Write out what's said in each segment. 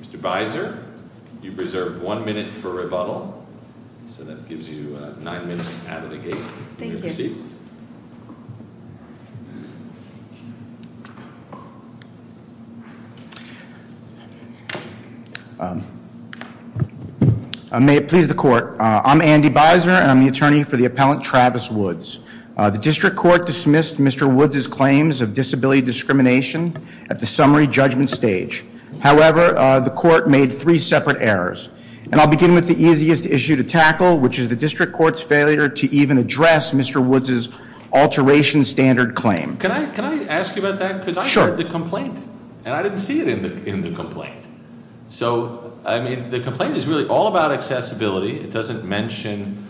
Mr. Beiser, you've reserved one minute for rebuttal, so that gives you nine minutes out of the gate. Thank you. Thank you. May it please the court. I'm Andy Beiser and I'm the attorney for the appellant Travis Woods. The district court dismissed Mr. Woods' claims of disability discrimination at the summary judgment stage. However, the court made three separate errors. And I'll begin with the easiest issue to tackle, which is the district court's failure to even address Mr. Woods' alteration standard claim. Can I ask you about that? Sure. Because I read the complaint and I didn't see it in the complaint. So, I mean, the complaint is really all about accessibility. It doesn't mention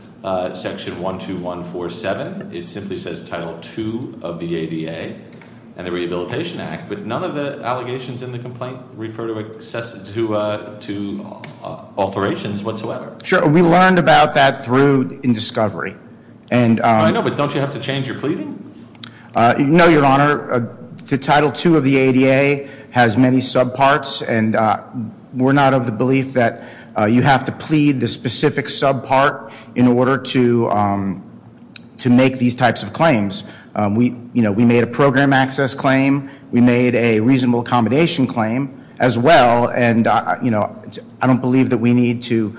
section 12147. It simply says Title II of the ADA and the Rehabilitation Act. But none of the allegations in the complaint refer to alterations whatsoever. Sure. We learned about that through discovery. I know, but don't you have to change your pleading? No, Your Honor. Title II of the ADA has many subparts and we're not of the belief that you have to plead the specific subpart in order to make these types of claims. We made a program access claim. We made a reasonable accommodation claim as well. And I don't believe that we need to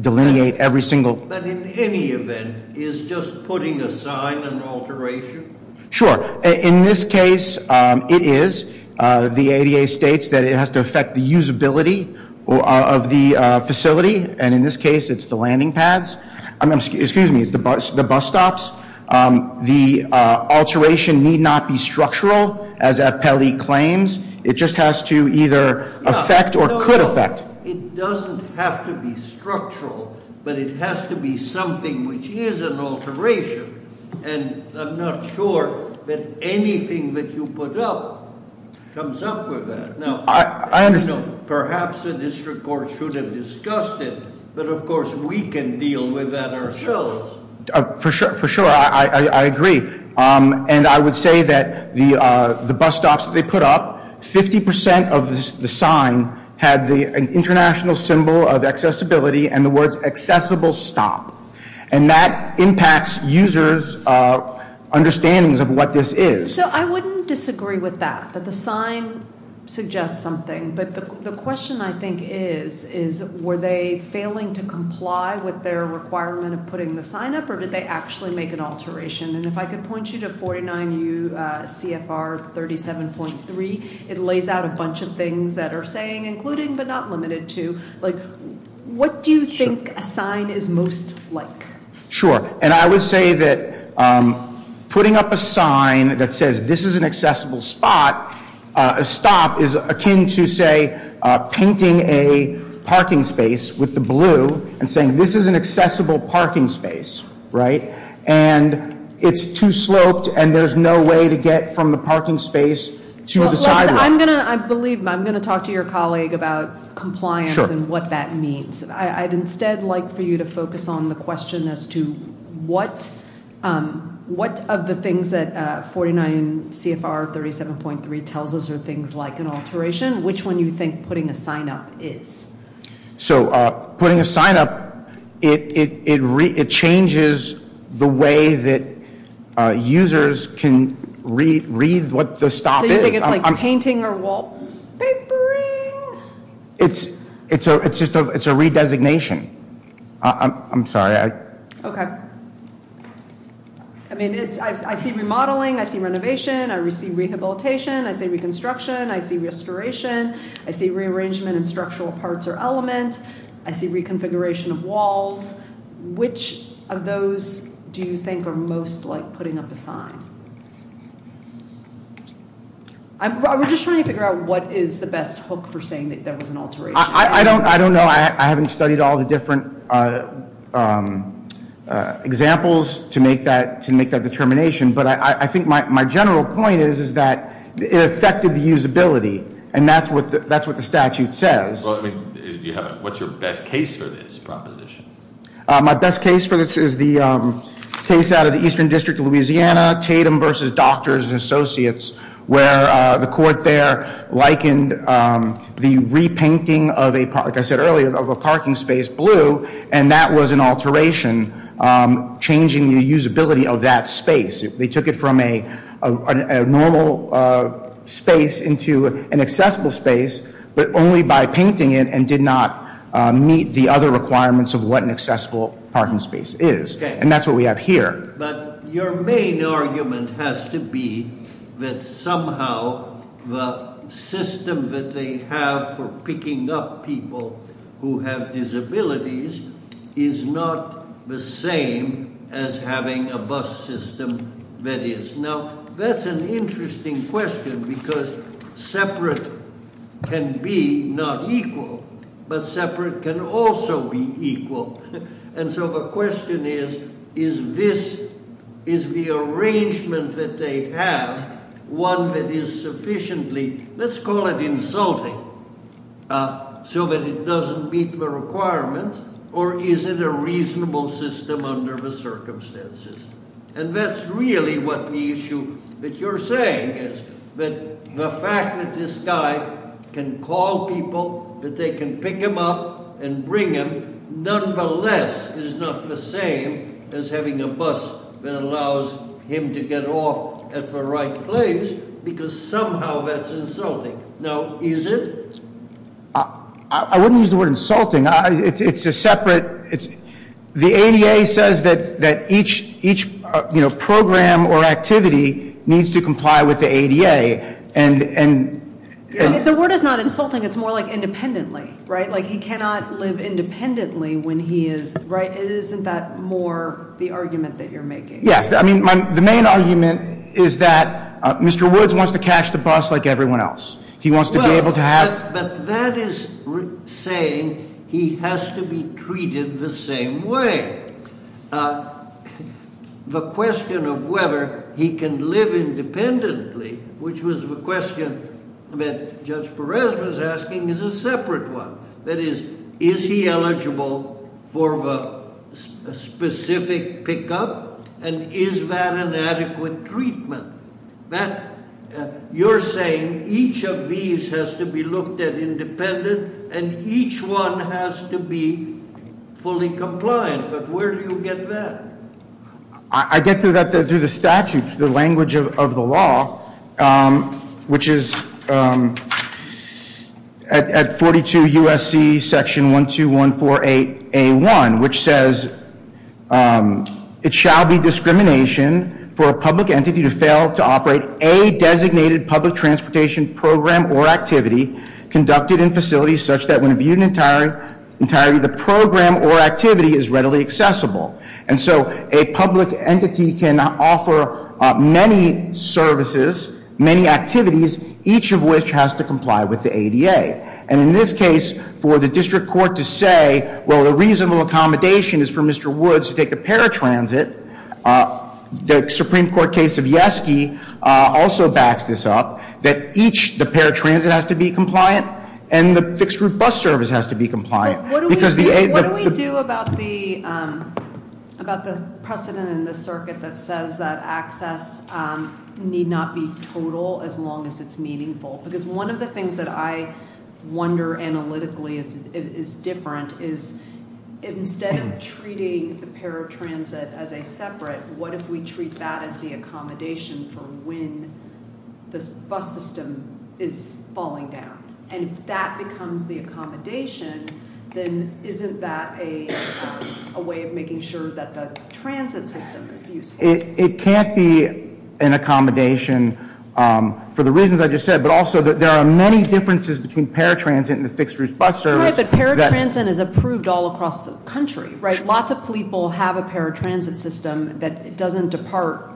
delineate every single- But in any event, is just putting a sign an alteration? Sure. In this case, it is. The ADA states that it has to affect the usability of the facility. And in this case, it's the landing pads. Excuse me, it's the bus stops. The alteration need not be structural, as Appelli claims. It just has to either affect or could affect. It doesn't have to be structural, but it has to be something which is an alteration. And I'm not sure that anything that you put up comes up with that. Now- I understand. Perhaps the district court should have discussed it, but of course we can deal with that ourselves. For sure. I agree. And I would say that the bus stops that they put up, 50% of the sign had the international symbol of accessibility and the words accessible stop. And that impacts users' understandings of what this is. So I wouldn't disagree with that, that the sign suggests something. But the question I think is, is were they failing to comply with their requirement of putting the sign up? Or did they actually make an alteration? And if I could point you to 49UCFR 37.3, it lays out a bunch of things that are saying including but not limited to. What do you think a sign is most like? Sure. And I would say that putting up a sign that says this is an accessible stop is akin to, say, painting a parking space with the blue and saying this is an accessible parking space. Right? And it's too sloped and there's no way to get from the parking space to the sidewalk. I'm going to talk to your colleague about compliance and what that means. I'd instead like for you to focus on the question as to what of the things that 49UCFR 37.3 tells us are things like an alteration. Which one do you think putting a sign up is? So putting a sign up, it changes the way that users can read what the stop is. So you think it's like painting or wallpapering? It's just it's a redesignation. I'm sorry. Okay. I mean, I see remodeling. I see renovation. I receive rehabilitation. I say reconstruction. I see restoration. I see rearrangement and structural parts or elements. I see reconfiguration of walls. Which of those do you think are most like putting up a sign? I'm just trying to figure out what is the best hook for saying that there was an alteration. I don't I don't know. I haven't studied all the different examples to make that to make that determination. But I think my general point is, is that it affected the usability. And that's what that's what the statute says. What's your best case for this proposition? My best case for this is the case out of the Eastern District of Louisiana, Tatum versus Doctors and Associates, where the court there likened the repainting of a, like I said earlier, of a parking space blue. And that was an alteration, changing the usability of that space. They took it from a normal space into an accessible space, but only by painting it and did not meet the other requirements of what an accessible parking space is. And that's what we have here. But your main argument has to be that somehow the system that they have for picking up people who have disabilities is not the same as having a bus system that is. Now, that's an interesting question because separate can be not equal, but separate can also be equal. And so the question is, is this, is the arrangement that they have one that is sufficiently, let's call it insulting, so that it doesn't meet the requirements? Or is it a reasonable system under the circumstances? And that's really what the issue that you're saying is, that the fact that this guy can call people, that they can pick him up and bring him, nonetheless, is not the same as having a bus that allows him to get off at the right place, because somehow that's insulting. Now, is it? I wouldn't use the word insulting. It's a separate, the ADA says that each program or activity needs to comply with the ADA. And- The word is not insulting, it's more like independently, right? Like he cannot live independently when he is, right? Isn't that more the argument that you're making? Yeah, I mean, the main argument is that Mr. Woods wants to catch the bus like everyone else. He wants to be able to have- But that is saying he has to be treated the same way. The question of whether he can live independently, which was the question that Judge Perez was asking, is a separate one. That is, is he eligible for the specific pickup? And is that an adequate treatment? That, you're saying each of these has to be looked at independently, and each one has to be fully compliant. But where do you get that? I get to that through the statutes, the language of the law, which is at 42 USC section 12148A1, which says, it shall be discrimination for a public entity to fail to operate a designated public transportation program or activity conducted in facilities such that when viewed in entirety, the program or activity is readily accessible. And so a public entity can offer many services, many activities, each of which has to comply with the ADA. And in this case, for the district court to say, well, the reasonable accommodation is for Mr. Woods to take the paratransit, the Supreme Court case of Yeske also backs this up, that each, the paratransit has to be compliant and the fixed route bus service has to be compliant. What do we do about the precedent in the circuit that says that access need not be total as long as it's meaningful? Because one of the things that I wonder analytically is different, is instead of treating the paratransit as a separate, what if we treat that as the accommodation for when this bus system is falling down? And if that becomes the accommodation, then isn't that a way of making sure that the transit system is useful? It can't be an accommodation for the reasons I just said, but also that there are many differences between paratransit and the fixed route bus service. I'm sorry, but paratransit is approved all across the country, right? Lots of people have a paratransit system that doesn't depart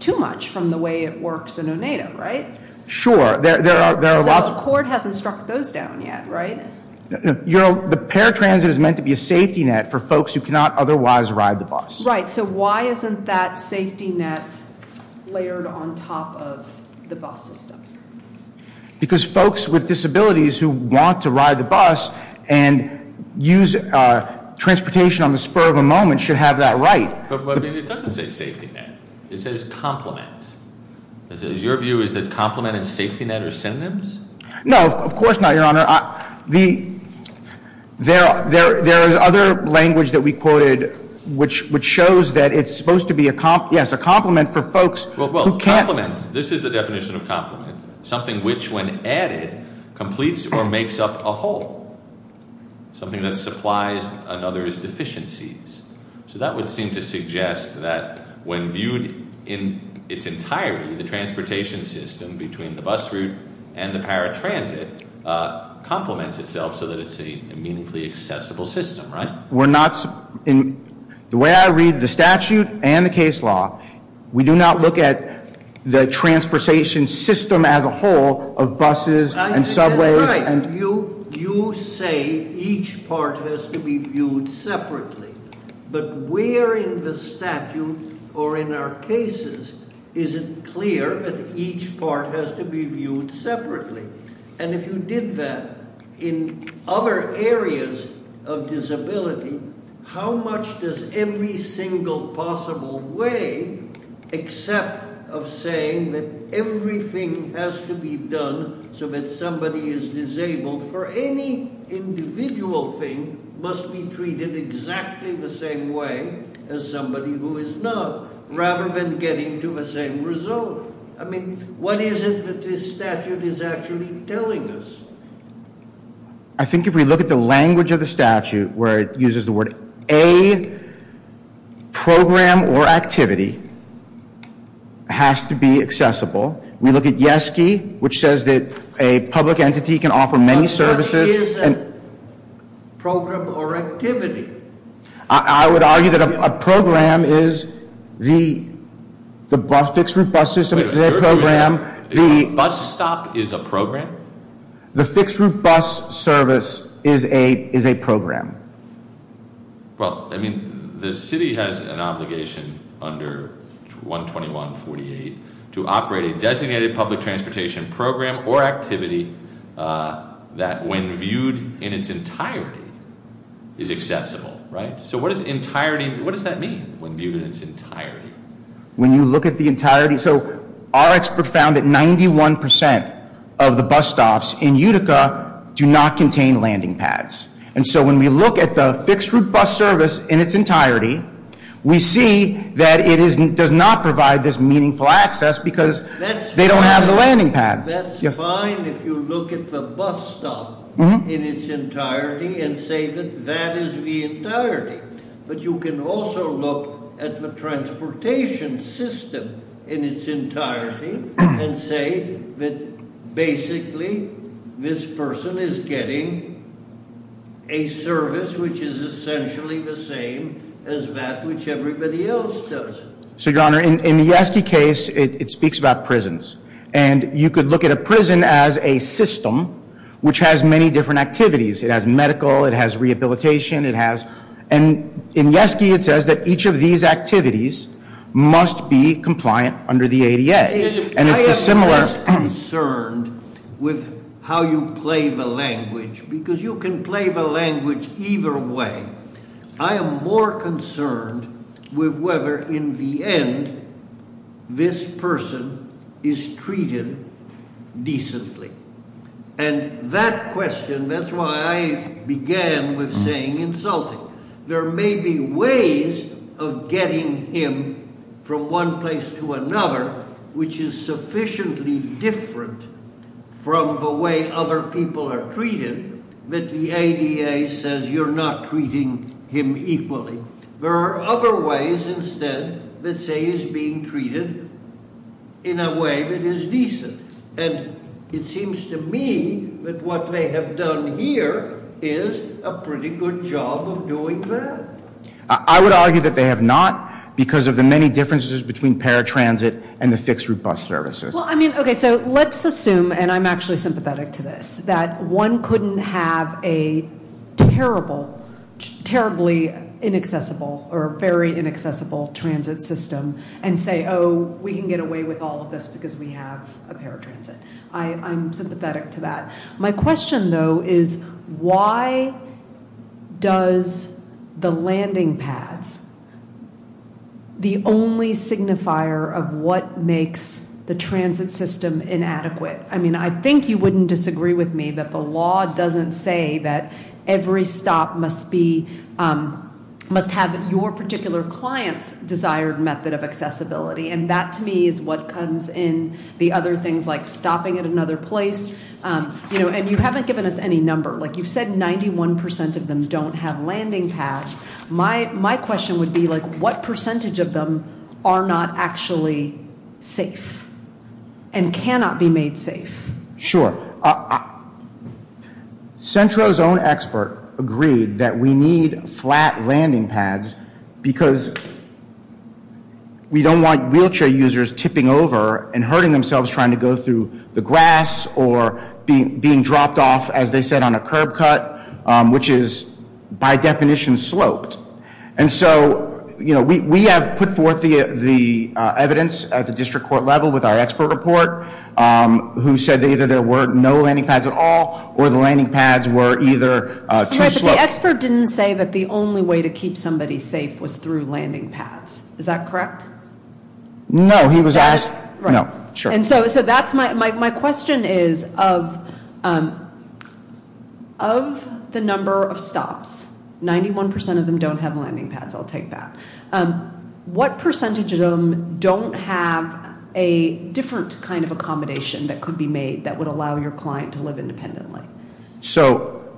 too much from the way it works in Oneida, right? Sure, there are lots- So the court hasn't struck those down yet, right? No, the paratransit is meant to be a safety net for folks who cannot otherwise ride the bus. Right, so why isn't that safety net layered on top of the bus system? Because folks with disabilities who want to ride the bus and use transportation on the spur of a moment should have that right. But it doesn't say safety net. It says complement. Your view is that complement and safety net are synonyms? No, of course not, Your Honor. There is other language that we quoted which shows that it's supposed to be a complement for folks who can't- This is the definition of complement. Something which, when added, completes or makes up a whole. Something that supplies another's deficiencies. So that would seem to suggest that when viewed in its entirety, the transportation system between the bus route and the paratransit complements itself so that it's a meaningfully accessible system, right? In the way I read the statute and the case law, we do not look at the transportation system as a whole of buses and subways- I think that's right. You say each part has to be viewed separately. But where in the statute or in our cases is it clear that each part has to be viewed separately? And if you did that in other areas of disability, how much does every single possible way, except of saying that everything has to be done so that somebody is disabled for any individual thing, must be treated exactly the same way as somebody who is not, rather than getting to the same result? I mean, what is it that this statute is actually telling us? I think if we look at the language of the statute where it uses the word, a program or activity has to be accessible. We look at YESKY, which says that a public entity can offer many services- But that is a program or activity. I would argue that a program is the fixed route bus system is a program. A bus stop is a program? The fixed route bus service is a program. Well, I mean, the city has an obligation under 121.48 to operate a designated public transportation program or activity that when viewed in its entirety is accessible, right? So what does entirety, what does that mean, when viewed in its entirety? When you look at the entirety, so our expert found that 91% of the bus stops in Utica do not contain landing pads. And so when we look at the fixed route bus service in its entirety, we see that it does not provide this meaningful access because they don't have the landing pads. That's fine if you look at the bus stop in its entirety and say that that is the entirety. But you can also look at the transportation system in its entirety and say that basically this person is getting a service which is essentially the same as that which everybody else does. So your honor, in the Yeske case, it speaks about prisons. And you could look at a prison as a system which has many different activities. It has medical, it has rehabilitation, it has, and in Yeske, it says that each of these activities must be compliant under the ADA. And it's the similar- I am less concerned with how you play the language because you can play the language either way. I am more concerned with whether in the end this person is treated decently. And that question, that's why I began with saying insulting. There may be ways of getting him from one place to another which is sufficiently different from the way other people are treated that the ADA says you're not treating him equally. There are other ways instead that say he's being treated in a way that is decent. And it seems to me that what they have done here is a pretty good job of doing that. I would argue that they have not because of the many differences between paratransit and the fixed route bus services. Okay, so let's assume, and I'm actually sympathetic to this, that one couldn't have a terribly inaccessible or very inaccessible transit system and say, oh, we can get away with all of this because we have a paratransit. I'm sympathetic to that. My question, though, is why does the landing pads, the only signifier of what makes the transit system inadequate? I mean, I think you wouldn't disagree with me that the law doesn't say that every stop must be, must have your particular client's desired method of accessibility. And that, to me, is what comes in the other things like stopping at another place. And you haven't given us any number. Like, you've said 91% of them don't have landing pads. My question would be, like, what percentage of them are not actually safe and cannot be made safe? Sure. Centro's own expert agreed that we need flat landing pads because we don't want wheelchair users tipping over and hurting themselves trying to go through the grass or being dropped off, as they said, on a curb cut, which is by definition sloped. And so, you know, we have put forth the evidence at the district court level with our expert report who said that either there were no landing pads at all or the landing pads were either too sloped. But the expert didn't say that the only way to keep somebody safe was through landing pads. Is that correct? No, he was asked, no. My question is, of the number of stops, 91% of them don't have landing pads, I'll take that. What percentage of them don't have a different kind of accommodation that could be made that would allow your client to live independently? So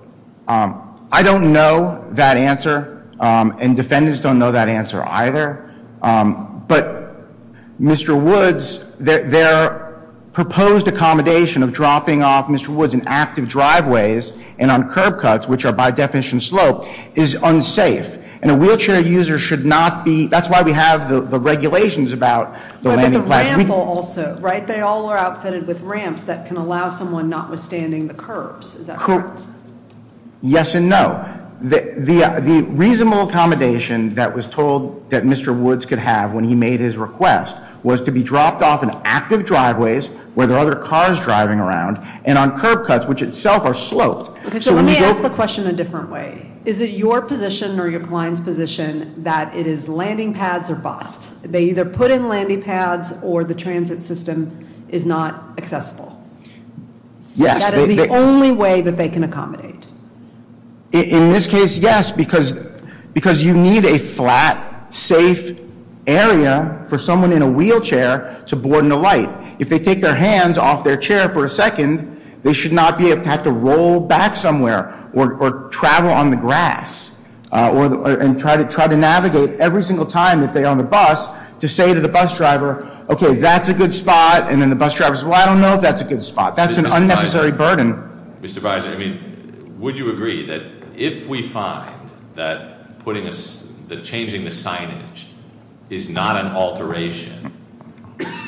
I don't know that answer, and defendants don't know that answer either. But Mr. Woods, their proposed accommodation of dropping off Mr. Woods in active driveways and on curb cuts, which are by definition sloped, is unsafe. And a wheelchair user should not be, that's why we have the regulations about the landing pads. But the ramble also, right? They all are outfitted with ramps that can allow someone notwithstanding the curbs. Is that correct? Yes and no. The reasonable accommodation that was told that Mr. Woods could have when he made his request was to be dropped off in active driveways where there are other cars driving around and on curb cuts which itself are sloped. So let me ask the question a different way. Is it your position or your client's position that it is landing pads or bust? They either put in landing pads or the transit system is not accessible. Yes. That is the only way that they can accommodate. In this case, yes, because you need a flat, safe area for someone in a wheelchair to board and alight. If they take their hands off their chair for a second, they should not have to roll back somewhere or travel on the grass and try to navigate every single time that they're on the bus to say to the bus driver, okay, that's a good spot. And then the bus driver says, well, I don't know if that's a good spot. That's an unnecessary burden. Mr. Weiser, would you agree that if we find that changing the signage is not an alteration,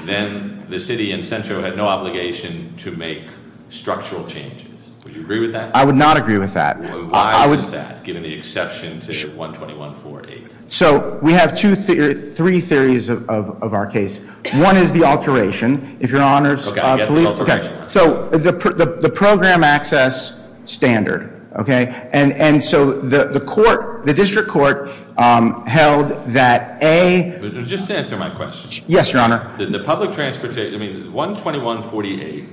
then the city in Centro had no obligation to make structural changes. Would you agree with that? I would not agree with that. Why is that, given the exception to 121.48? So we have three theories of our case. One is the alteration. If your honors- Okay, I'll get the alteration. Okay. So the program access standard, okay? And so the court, the district court held that A- Just answer my question. Yes, your honor. The public transportation, I mean, 121.48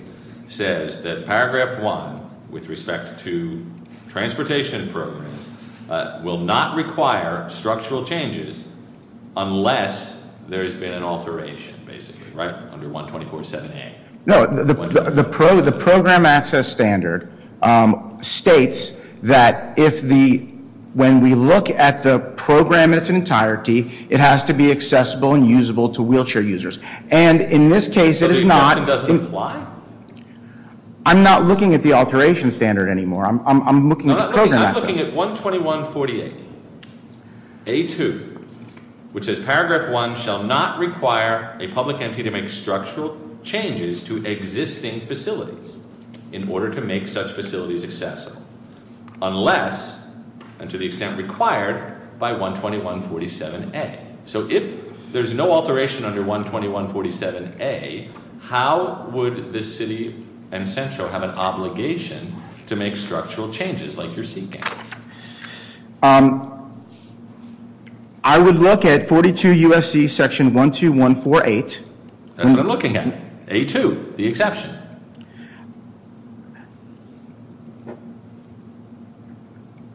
says that paragraph one, with respect to transportation programs, will not require structural changes unless there's been an alteration, basically, right? Under 124.78. No, the program access standard states that when we look at the program in its entirety, it has to be accessible and usable to wheelchair users. And in this case, it is not- So the exception doesn't apply? I'm not looking at the alteration standard anymore. I'm looking at the program access. I'm looking at 121.48. A-2, which says paragraph one shall not require a public entity to make structural changes to existing facilities in order to make such facilities accessible unless, and to the extent required, by 121.47-A. So if there's no alteration under 121.47-A, how would the city and Centro have an obligation to make structural changes like you're seeking? I would look at 42 U.S.C. section 121.48. That's what I'm looking at. A-2, the exception.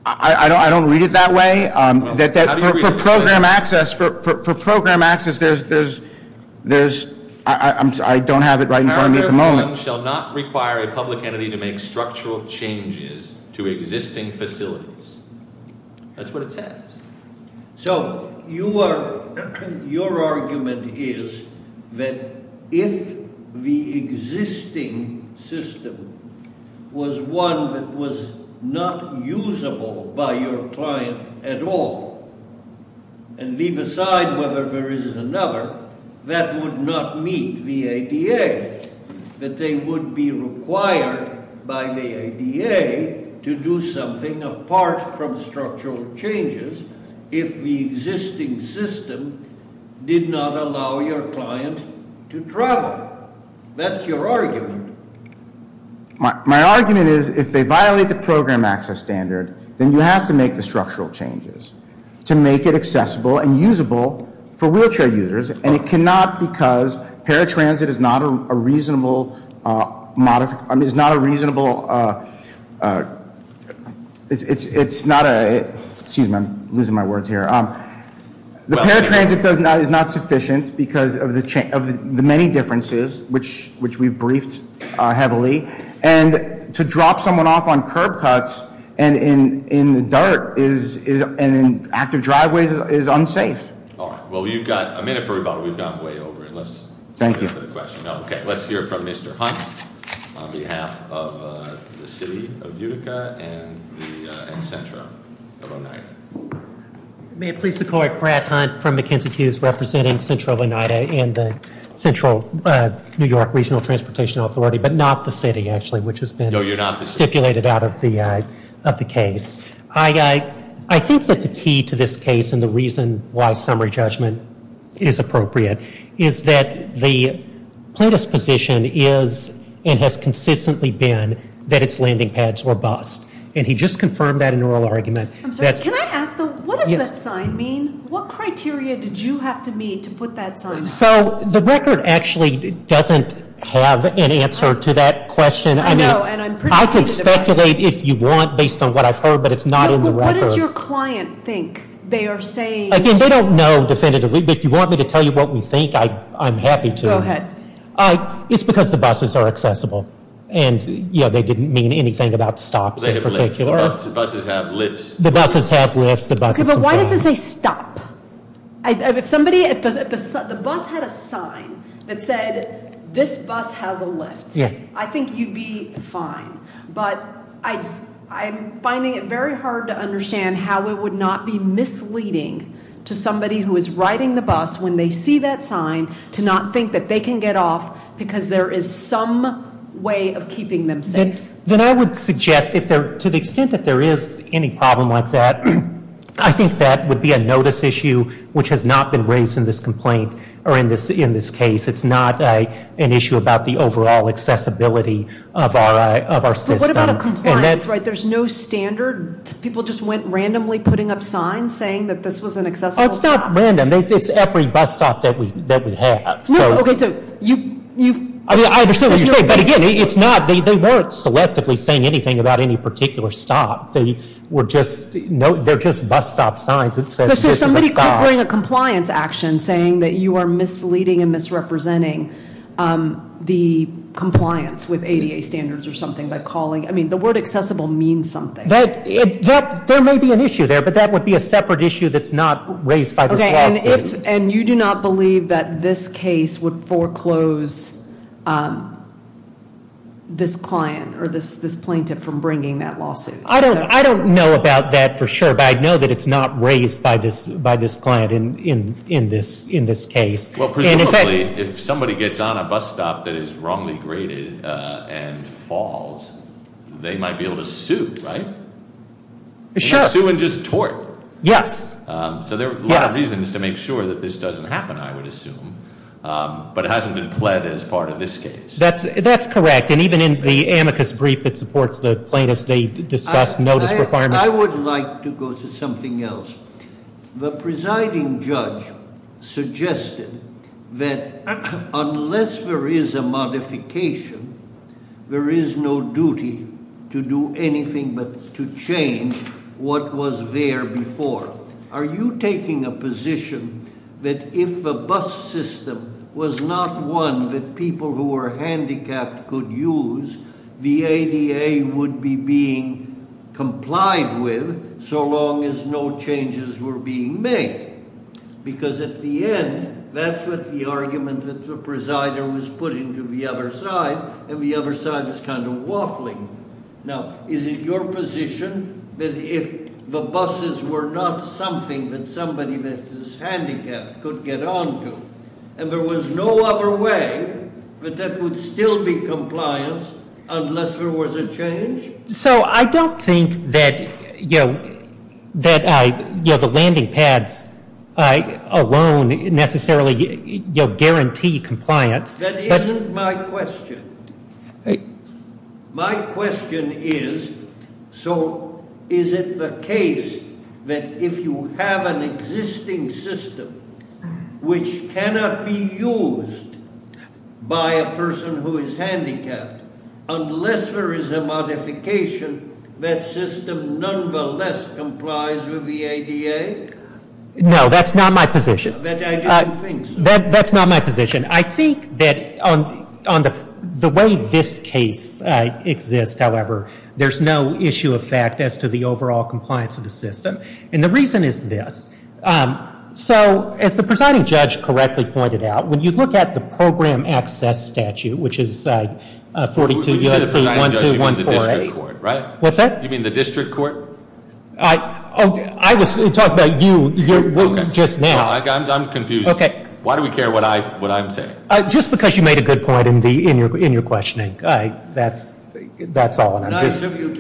I don't read it that way. For program access, there's- I don't have it right in front of me at the moment. Paragraph one shall not require a public entity to make structural changes to existing facilities. That's what it says. So your argument is that if the existing system was one that was not usable by your client at all and leave aside whether there is another, that would not meet the ADA, that they would be required by the ADA to do something apart from structural changes if the existing system did not allow your client to travel. That's your argument. My argument is if they violate the program access standard, then you have to make the structural changes to make it accessible and usable for wheelchair users, and it cannot because paratransit is not a reasonable- It's not a- Excuse me. I'm losing my words here. The paratransit is not sufficient because of the many differences, which we've briefed heavily, and to drop someone off on curb cuts and in the dirt and in active driveways is unsafe. All right. Well, you've got a minute for rebuttal. We've gone way over it. Thank you. Let's hear from Mr. Hunt on behalf of the city of Utica and Centro of Oneida. May it please the court, Brad Hunt from McKenzie Hughes representing Centro of Oneida and the Central New York Regional Transportation Authority, but not the city, actually, which has been stipulated out of the case. I think that the key to this case and the reason why summary judgment is appropriate is that the plaintiff's position is and has consistently been that its landing pads were bust, and he just confirmed that in an oral argument. I'm sorry. Can I ask, though, what does that sign mean? What criteria did you have to meet to put that sign? So the record actually doesn't have an answer to that question. I know, and I'm pretty confident about it. I can speculate if you want based on what I've heard, but it's not in the record. What does your client think they are saying? Again, they don't know definitively, but if you want me to tell you what we think, I'm happy to. Go ahead. It's because the buses are accessible, and, you know, they didn't mean anything about stops in particular. They have lifts. The buses have lifts. The buses have lifts. The buses comply. But why does it say stop? If somebody at the bus had a sign that said, this bus has a lift, I think you'd be fine. But I'm finding it very hard to understand how it would not be misleading to somebody who is riding the bus, when they see that sign, to not think that they can get off because there is some way of keeping them safe. Then I would suggest, to the extent that there is any problem like that, I think that would be a notice issue, which has not been raised in this complaint or in this case. It's not an issue about the overall accessibility of our system. But what about a compliance, right? There's no standard. People just went randomly putting up signs saying that this was an accessible stop. It's not random. It's every bus stop that we have. No, okay, so you've ‑‑ I mean, I understand what you're saying, but, again, it's not. They weren't selectively saying anything about any particular stop. They were just ‑‑ they're just bus stop signs that says this is a stop. You could bring a compliance action saying that you are misleading and misrepresenting the compliance with ADA standards or something by calling. I mean, the word accessible means something. There may be an issue there, but that would be a separate issue that's not raised by this lawsuit. Okay, and you do not believe that this case would foreclose this client or this plaintiff from bringing that lawsuit? I don't know about that for sure, but I know that it's not raised by this client in this case. Well, presumably, if somebody gets on a bus stop that is wrongly graded and falls, they might be able to sue, right? Sure. Sue and just tort. Yes. So there are a lot of reasons to make sure that this doesn't happen, I would assume. But it hasn't been pled as part of this case. That's correct. And even in the amicus brief that supports the plaintiffs, they discuss notice requirements. I would like to go to something else. The presiding judge suggested that unless there is a modification, there is no duty to do anything but to change what was there before. Are you taking a position that if the bus system was not one that people who were handicapped could use, the ADA would be being complied with so long as no changes were being made? Because at the end, that's what the argument that the presider was putting to the other side, and the other side is kind of waffling. Now, is it your position that if the buses were not something that somebody that is handicapped could get on to, and there was no other way, that that would still be compliance unless there was a change? So I don't think that the landing pads alone necessarily guarantee compliance. That isn't my question. My question is, so is it the case that if you have an existing system which cannot be used by a person who is handicapped, unless there is a modification, that system nonetheless complies with the ADA? No, that's not my position. That's not my position. I think that on the way this case exists, however, there's no issue of fact as to the overall compliance of the system. And the reason is this. So as the presiding judge correctly pointed out, when you look at the program access statute, which is 42 U.S.C. 1214A, what's that? You mean the district court? I was talking about you just now. I'm confused. Why do we care what I'm saying? Just because you made a good point in your questioning. That's all. And I just think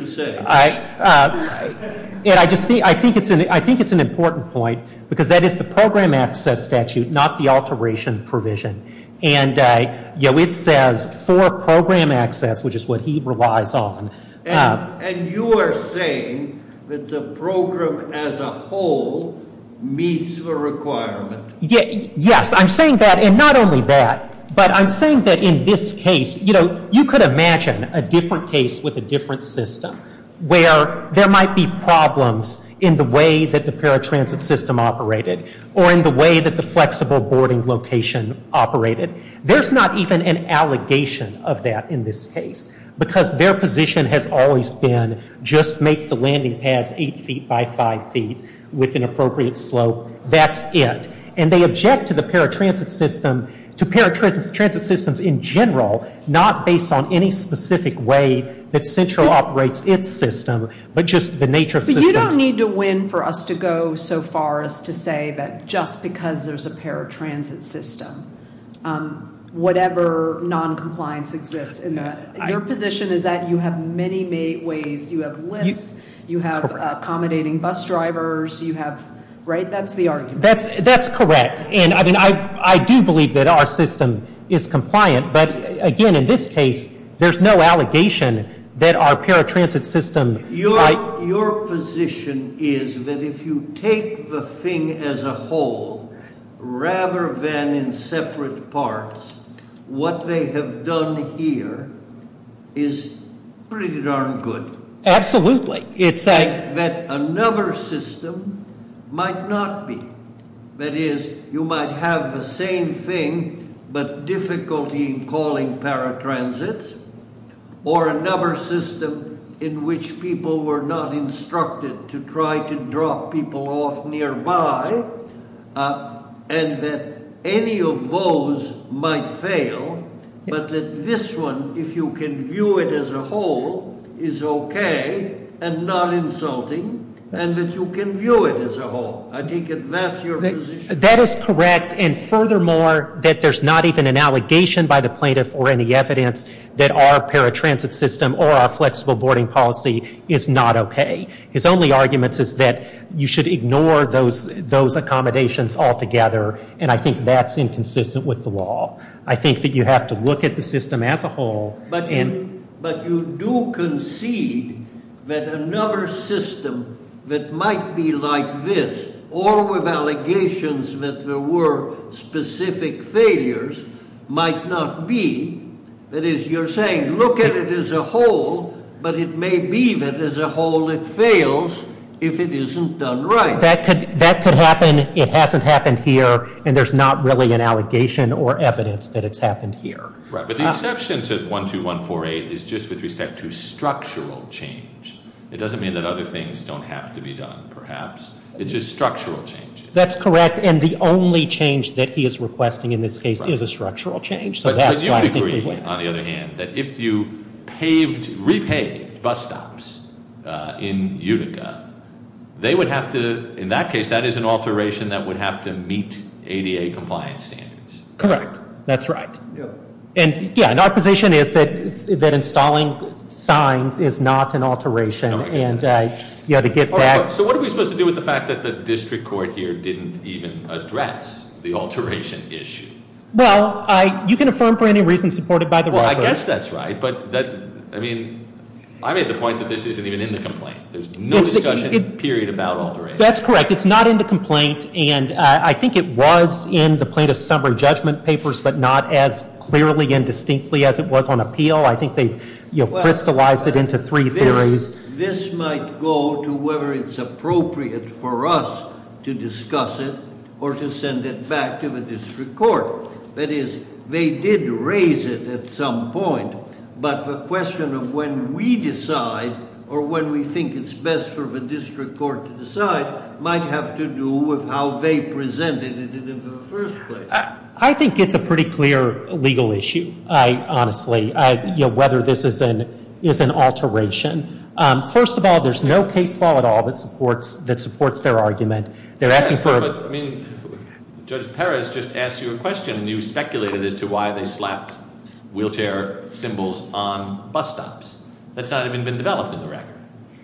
it's an important point because that is the program access statute, not the alteration provision. And it says for program access, which is what he relies on. And you are saying that the program as a whole meets the requirement? Yes. I'm saying that. And not only that, but I'm saying that in this case, you could imagine a different case with a different system where there might be problems in the way that the paratransit system operated or in the way that the flexible boarding location operated. There's not even an allegation of that in this case because their position has always been just make the landing pads 8 feet by 5 feet with an appropriate slope. That's it. And they object to the paratransit system, to paratransit systems in general, not based on any specific way that Central operates its system, but just the nature of systems. But you don't need to win for us to go so far as to say that just because there's a paratransit system, whatever noncompliance exists in that. Your position is that you have many ways. You have lifts. You have accommodating bus drivers. You have, right? That's the argument. That's correct. And, I mean, I do believe that our system is compliant. But, again, in this case, there's no allegation that our paratransit system. Your position is that if you take the thing as a whole rather than in separate parts, what they have done here is pretty darn good. Absolutely. It's that another system might not be. That is, you might have the same thing but difficulty in calling paratransits or another system in which people were not instructed to try to drop people off nearby and that any of those might fail, but that this one, if you can view it as a whole, is okay and not insulting and that you can view it as a whole. I think that's your position. That is correct. And, furthermore, that there's not even an allegation by the plaintiff or any evidence that our paratransit system or our flexible boarding policy is not okay. His only argument is that you should ignore those accommodations altogether, and I think that's inconsistent with the law. I think that you have to look at the system as a whole. But you do concede that another system that might be like this or with allegations that there were specific failures might not be. That is, you're saying look at it as a whole, but it may be that as a whole it fails if it isn't done right. That could happen. It hasn't happened here, and there's not really an allegation or evidence that it's happened here. Right. But the exception to 12148 is just with respect to structural change. It doesn't mean that other things don't have to be done, perhaps. It's just structural change. That's correct, and the only change that he is requesting in this case is a structural change. You would agree, on the other hand, that if you repaved bus stops in Utica, they would have to, in that case, that is an alteration that would have to meet ADA compliance standards. Correct. That's right. And our position is that installing signs is not an alteration. So what are we supposed to do with the fact that the district court here didn't even address the alteration issue? Well, you can affirm for any reason supported by the record. Well, I guess that's right, but I mean, I made the point that this isn't even in the complaint. There's no discussion, period, about alteration. That's correct. It's not in the complaint, and I think it was in the plaintiff's summary judgment papers, but not as clearly and distinctly as it was on appeal. I think they've crystallized it into three theories. This might go to whether it's appropriate for us to discuss it or to send it back to the district court. That is, they did raise it at some point, but the question of when we decide or when we think it's best for the district court to decide might have to do with how they presented it in the first place. I think it's a pretty clear legal issue, honestly, whether this is an alteration. First of all, there's no case law at all that supports their argument. They're asking for- I mean, Judge Perez just asked you a question, and you speculated as to why they slapped wheelchair symbols on bus stops. That's not even been developed in the record.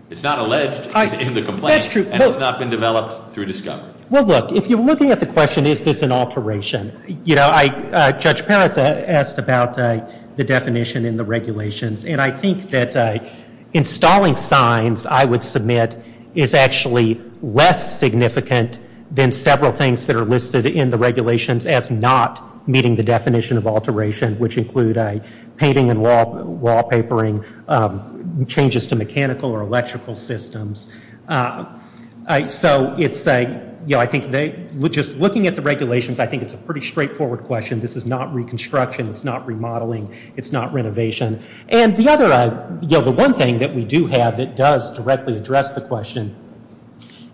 It's not alleged in the complaint, and it's not been developed through discovery. Well, look, if you're looking at the question, is this an alteration? Judge Perez asked about the definition in the regulations, and I think that installing signs, I would submit, is actually less significant than several things that are listed in the regulations as not meeting the definition of alteration, which include painting and wallpapering, changes to mechanical or electrical systems. So I think just looking at the regulations, I think it's a pretty straightforward question. This is not reconstruction. It's not remodeling. It's not renovation. And the one thing that we do have that does directly address the question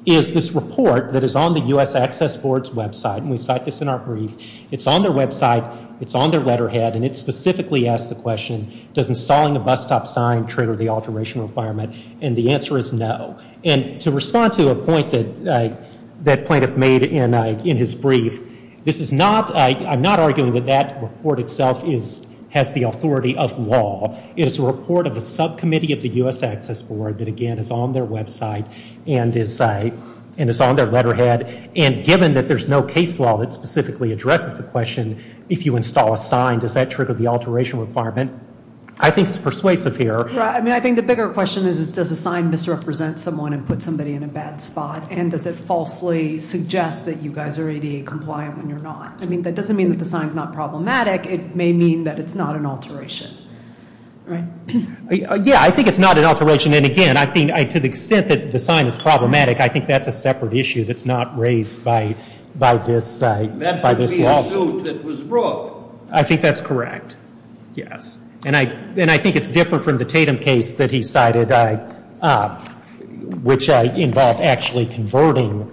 is this report that is on the U.S. Access Board's website, and we cite this in our brief. It's on their website. It's on their letterhead, and it specifically asks the question, does installing a bus stop sign trigger the alteration requirement? And the answer is no. And to respond to a point that that plaintiff made in his brief, I'm not arguing that that report itself has the authority of law. It is a report of a subcommittee of the U.S. Access Board that, again, is on their website and is on their letterhead, and given that there's no case law that specifically addresses the question, if you install a sign, does that trigger the alteration requirement, I think is persuasive here. I mean, I think the bigger question is, does a sign misrepresent someone and put somebody in a bad spot, and does it falsely suggest that you guys are ADA compliant when you're not? I mean, that doesn't mean that the sign's not problematic. It may mean that it's not an alteration, right? Yeah, I think it's not an alteration, and, again, I think to the extent that the sign is problematic, I think that's a separate issue that's not raised by this lawsuit. That would be a suit that was brought. I think that's correct, yes. And I think it's different from the Tatum case that he cited, which involved actually converting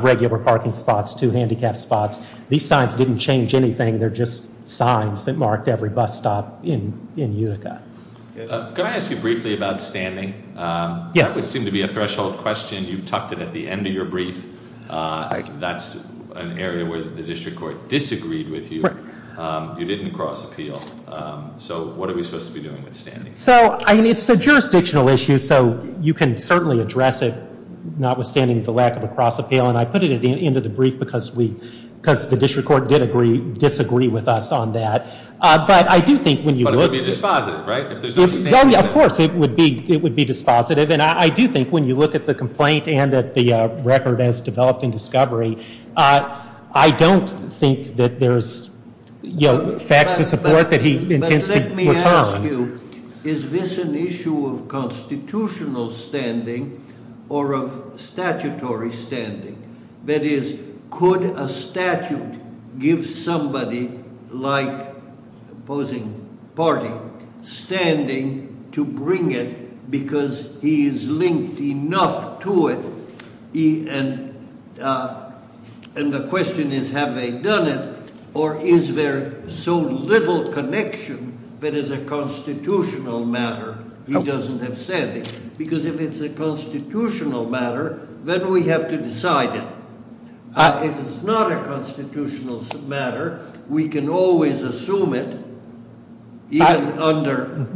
regular parking spots to handicapped spots. These signs didn't change anything. They're just signs that marked every bus stop in Utica. Can I ask you briefly about standing? Yes. That would seem to be a threshold question. You've tucked it at the end of your brief. That's an area where the district court disagreed with you. You didn't cross appeal. So what are we supposed to be doing with standing? So, I mean, it's a jurisdictional issue, so you can certainly address it, notwithstanding the lack of a cross appeal, and I put it at the end of the brief because the district court did disagree with us on that. But I do think when you look at it. But it would be dispositive, right? Of course, it would be dispositive, and I do think when you look at the complaint and at the record as developed in discovery, I don't think that there's facts to support that he intends to return. But let me ask you, is this an issue of constitutional standing or of statutory standing? That is, could a statute give somebody like opposing party standing to bring it because he is linked enough to it? And the question is, have they done it or is there so little connection that is a constitutional matter he doesn't have standing? Because if it's a constitutional matter, then we have to decide it. If it's not a constitutional matter, we can always assume it, even under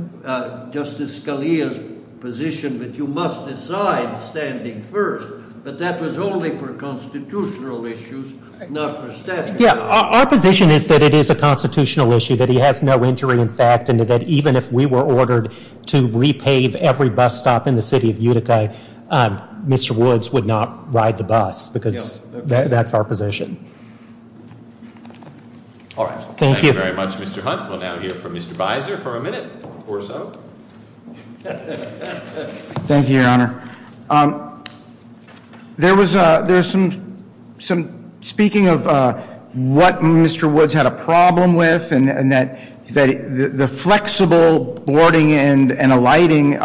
Justice Scalia's position that you must decide standing first. But that was only for constitutional issues, not for statute. Yeah, our position is that it is a constitutional issue, that he has no injury in fact, and that even if we were ordered to repave every bus stop in the city of Utica, Mr. Woods would not ride the bus because that's our position. All right, thank you. Thank you very much, Mr. Hunt. We'll now hear from Mr. Bizer for a minute or so. Thank you, Your Honor. There was some speaking of what Mr. Woods had a problem with, and that the flexible boarding and a lighting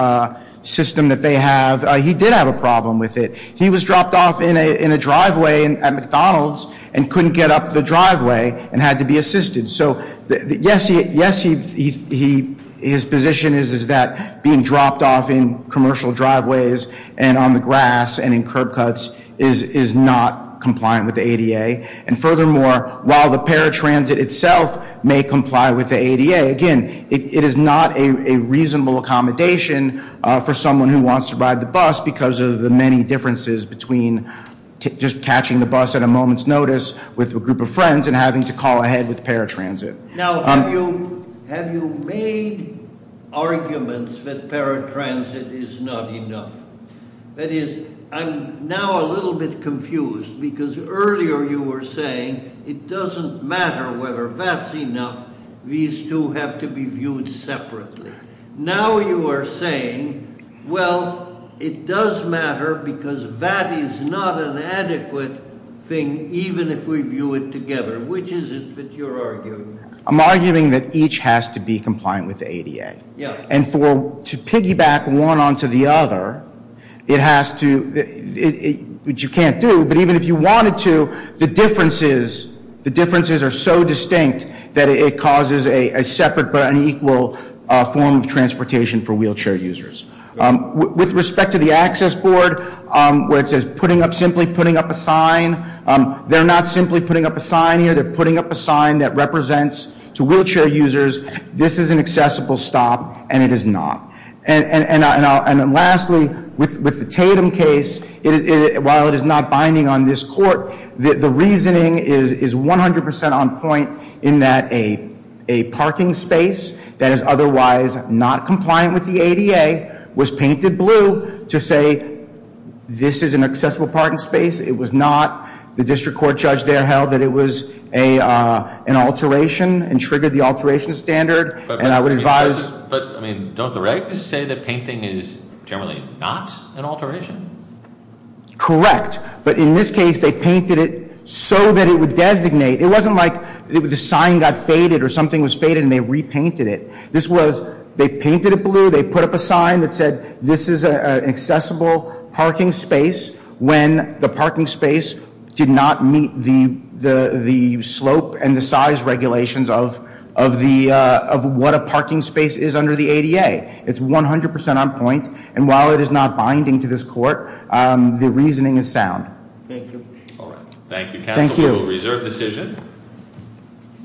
system that they have, he did have a problem with it. He was dropped off in a driveway at McDonald's and couldn't get up the driveway and had to be assisted. So yes, his position is that being dropped off in commercial driveways and on the grass and in curb cuts is not compliant with the ADA. And furthermore, while the paratransit itself may comply with the ADA, again, it is not a reasonable accommodation for someone who wants to ride the bus because of the many differences between just catching the bus at a moment's notice with a group of friends and having to call ahead with paratransit. Now, have you made arguments that paratransit is not enough? That is, I'm now a little bit confused because earlier you were saying it doesn't matter whether that's enough. These two have to be viewed separately. Now you are saying, well, it does matter because that is not an adequate thing even if we view it together. Which is it that you're arguing? I'm arguing that each has to be compliant with the ADA. Yeah. And for, to piggyback one onto the other, it has to, which you can't do, but even if you wanted to, the differences are so distinct that it causes a separate but an equal form of transportation for wheelchair users. With respect to the access board, where it says putting up, simply putting up a sign, they're not simply putting up a sign here, they're putting up a sign that represents to wheelchair users, this is an accessible stop and it is not. And lastly, with the Tatum case, while it is not binding on this court, the reasoning is 100% on point in that a parking space that is otherwise not compliant with the ADA was painted blue to say this is an accessible parking space. It was not. The district court judge there held that it was an alteration and triggered the alteration standard. But, I mean, don't the regs say that painting is generally not an alteration? Correct. But in this case, they painted it so that it would designate. It wasn't like the sign got faded or something was faded and they repainted it. This was, they painted it blue, they put up a sign that said this is an accessible parking space when the parking space did not meet the slope and the size regulations of what a parking space is under the ADA. It's 100% on point. And while it is not binding to this court, the reasoning is sound. Thank you. Thank you, counsel. Thank you. We will reserve decision.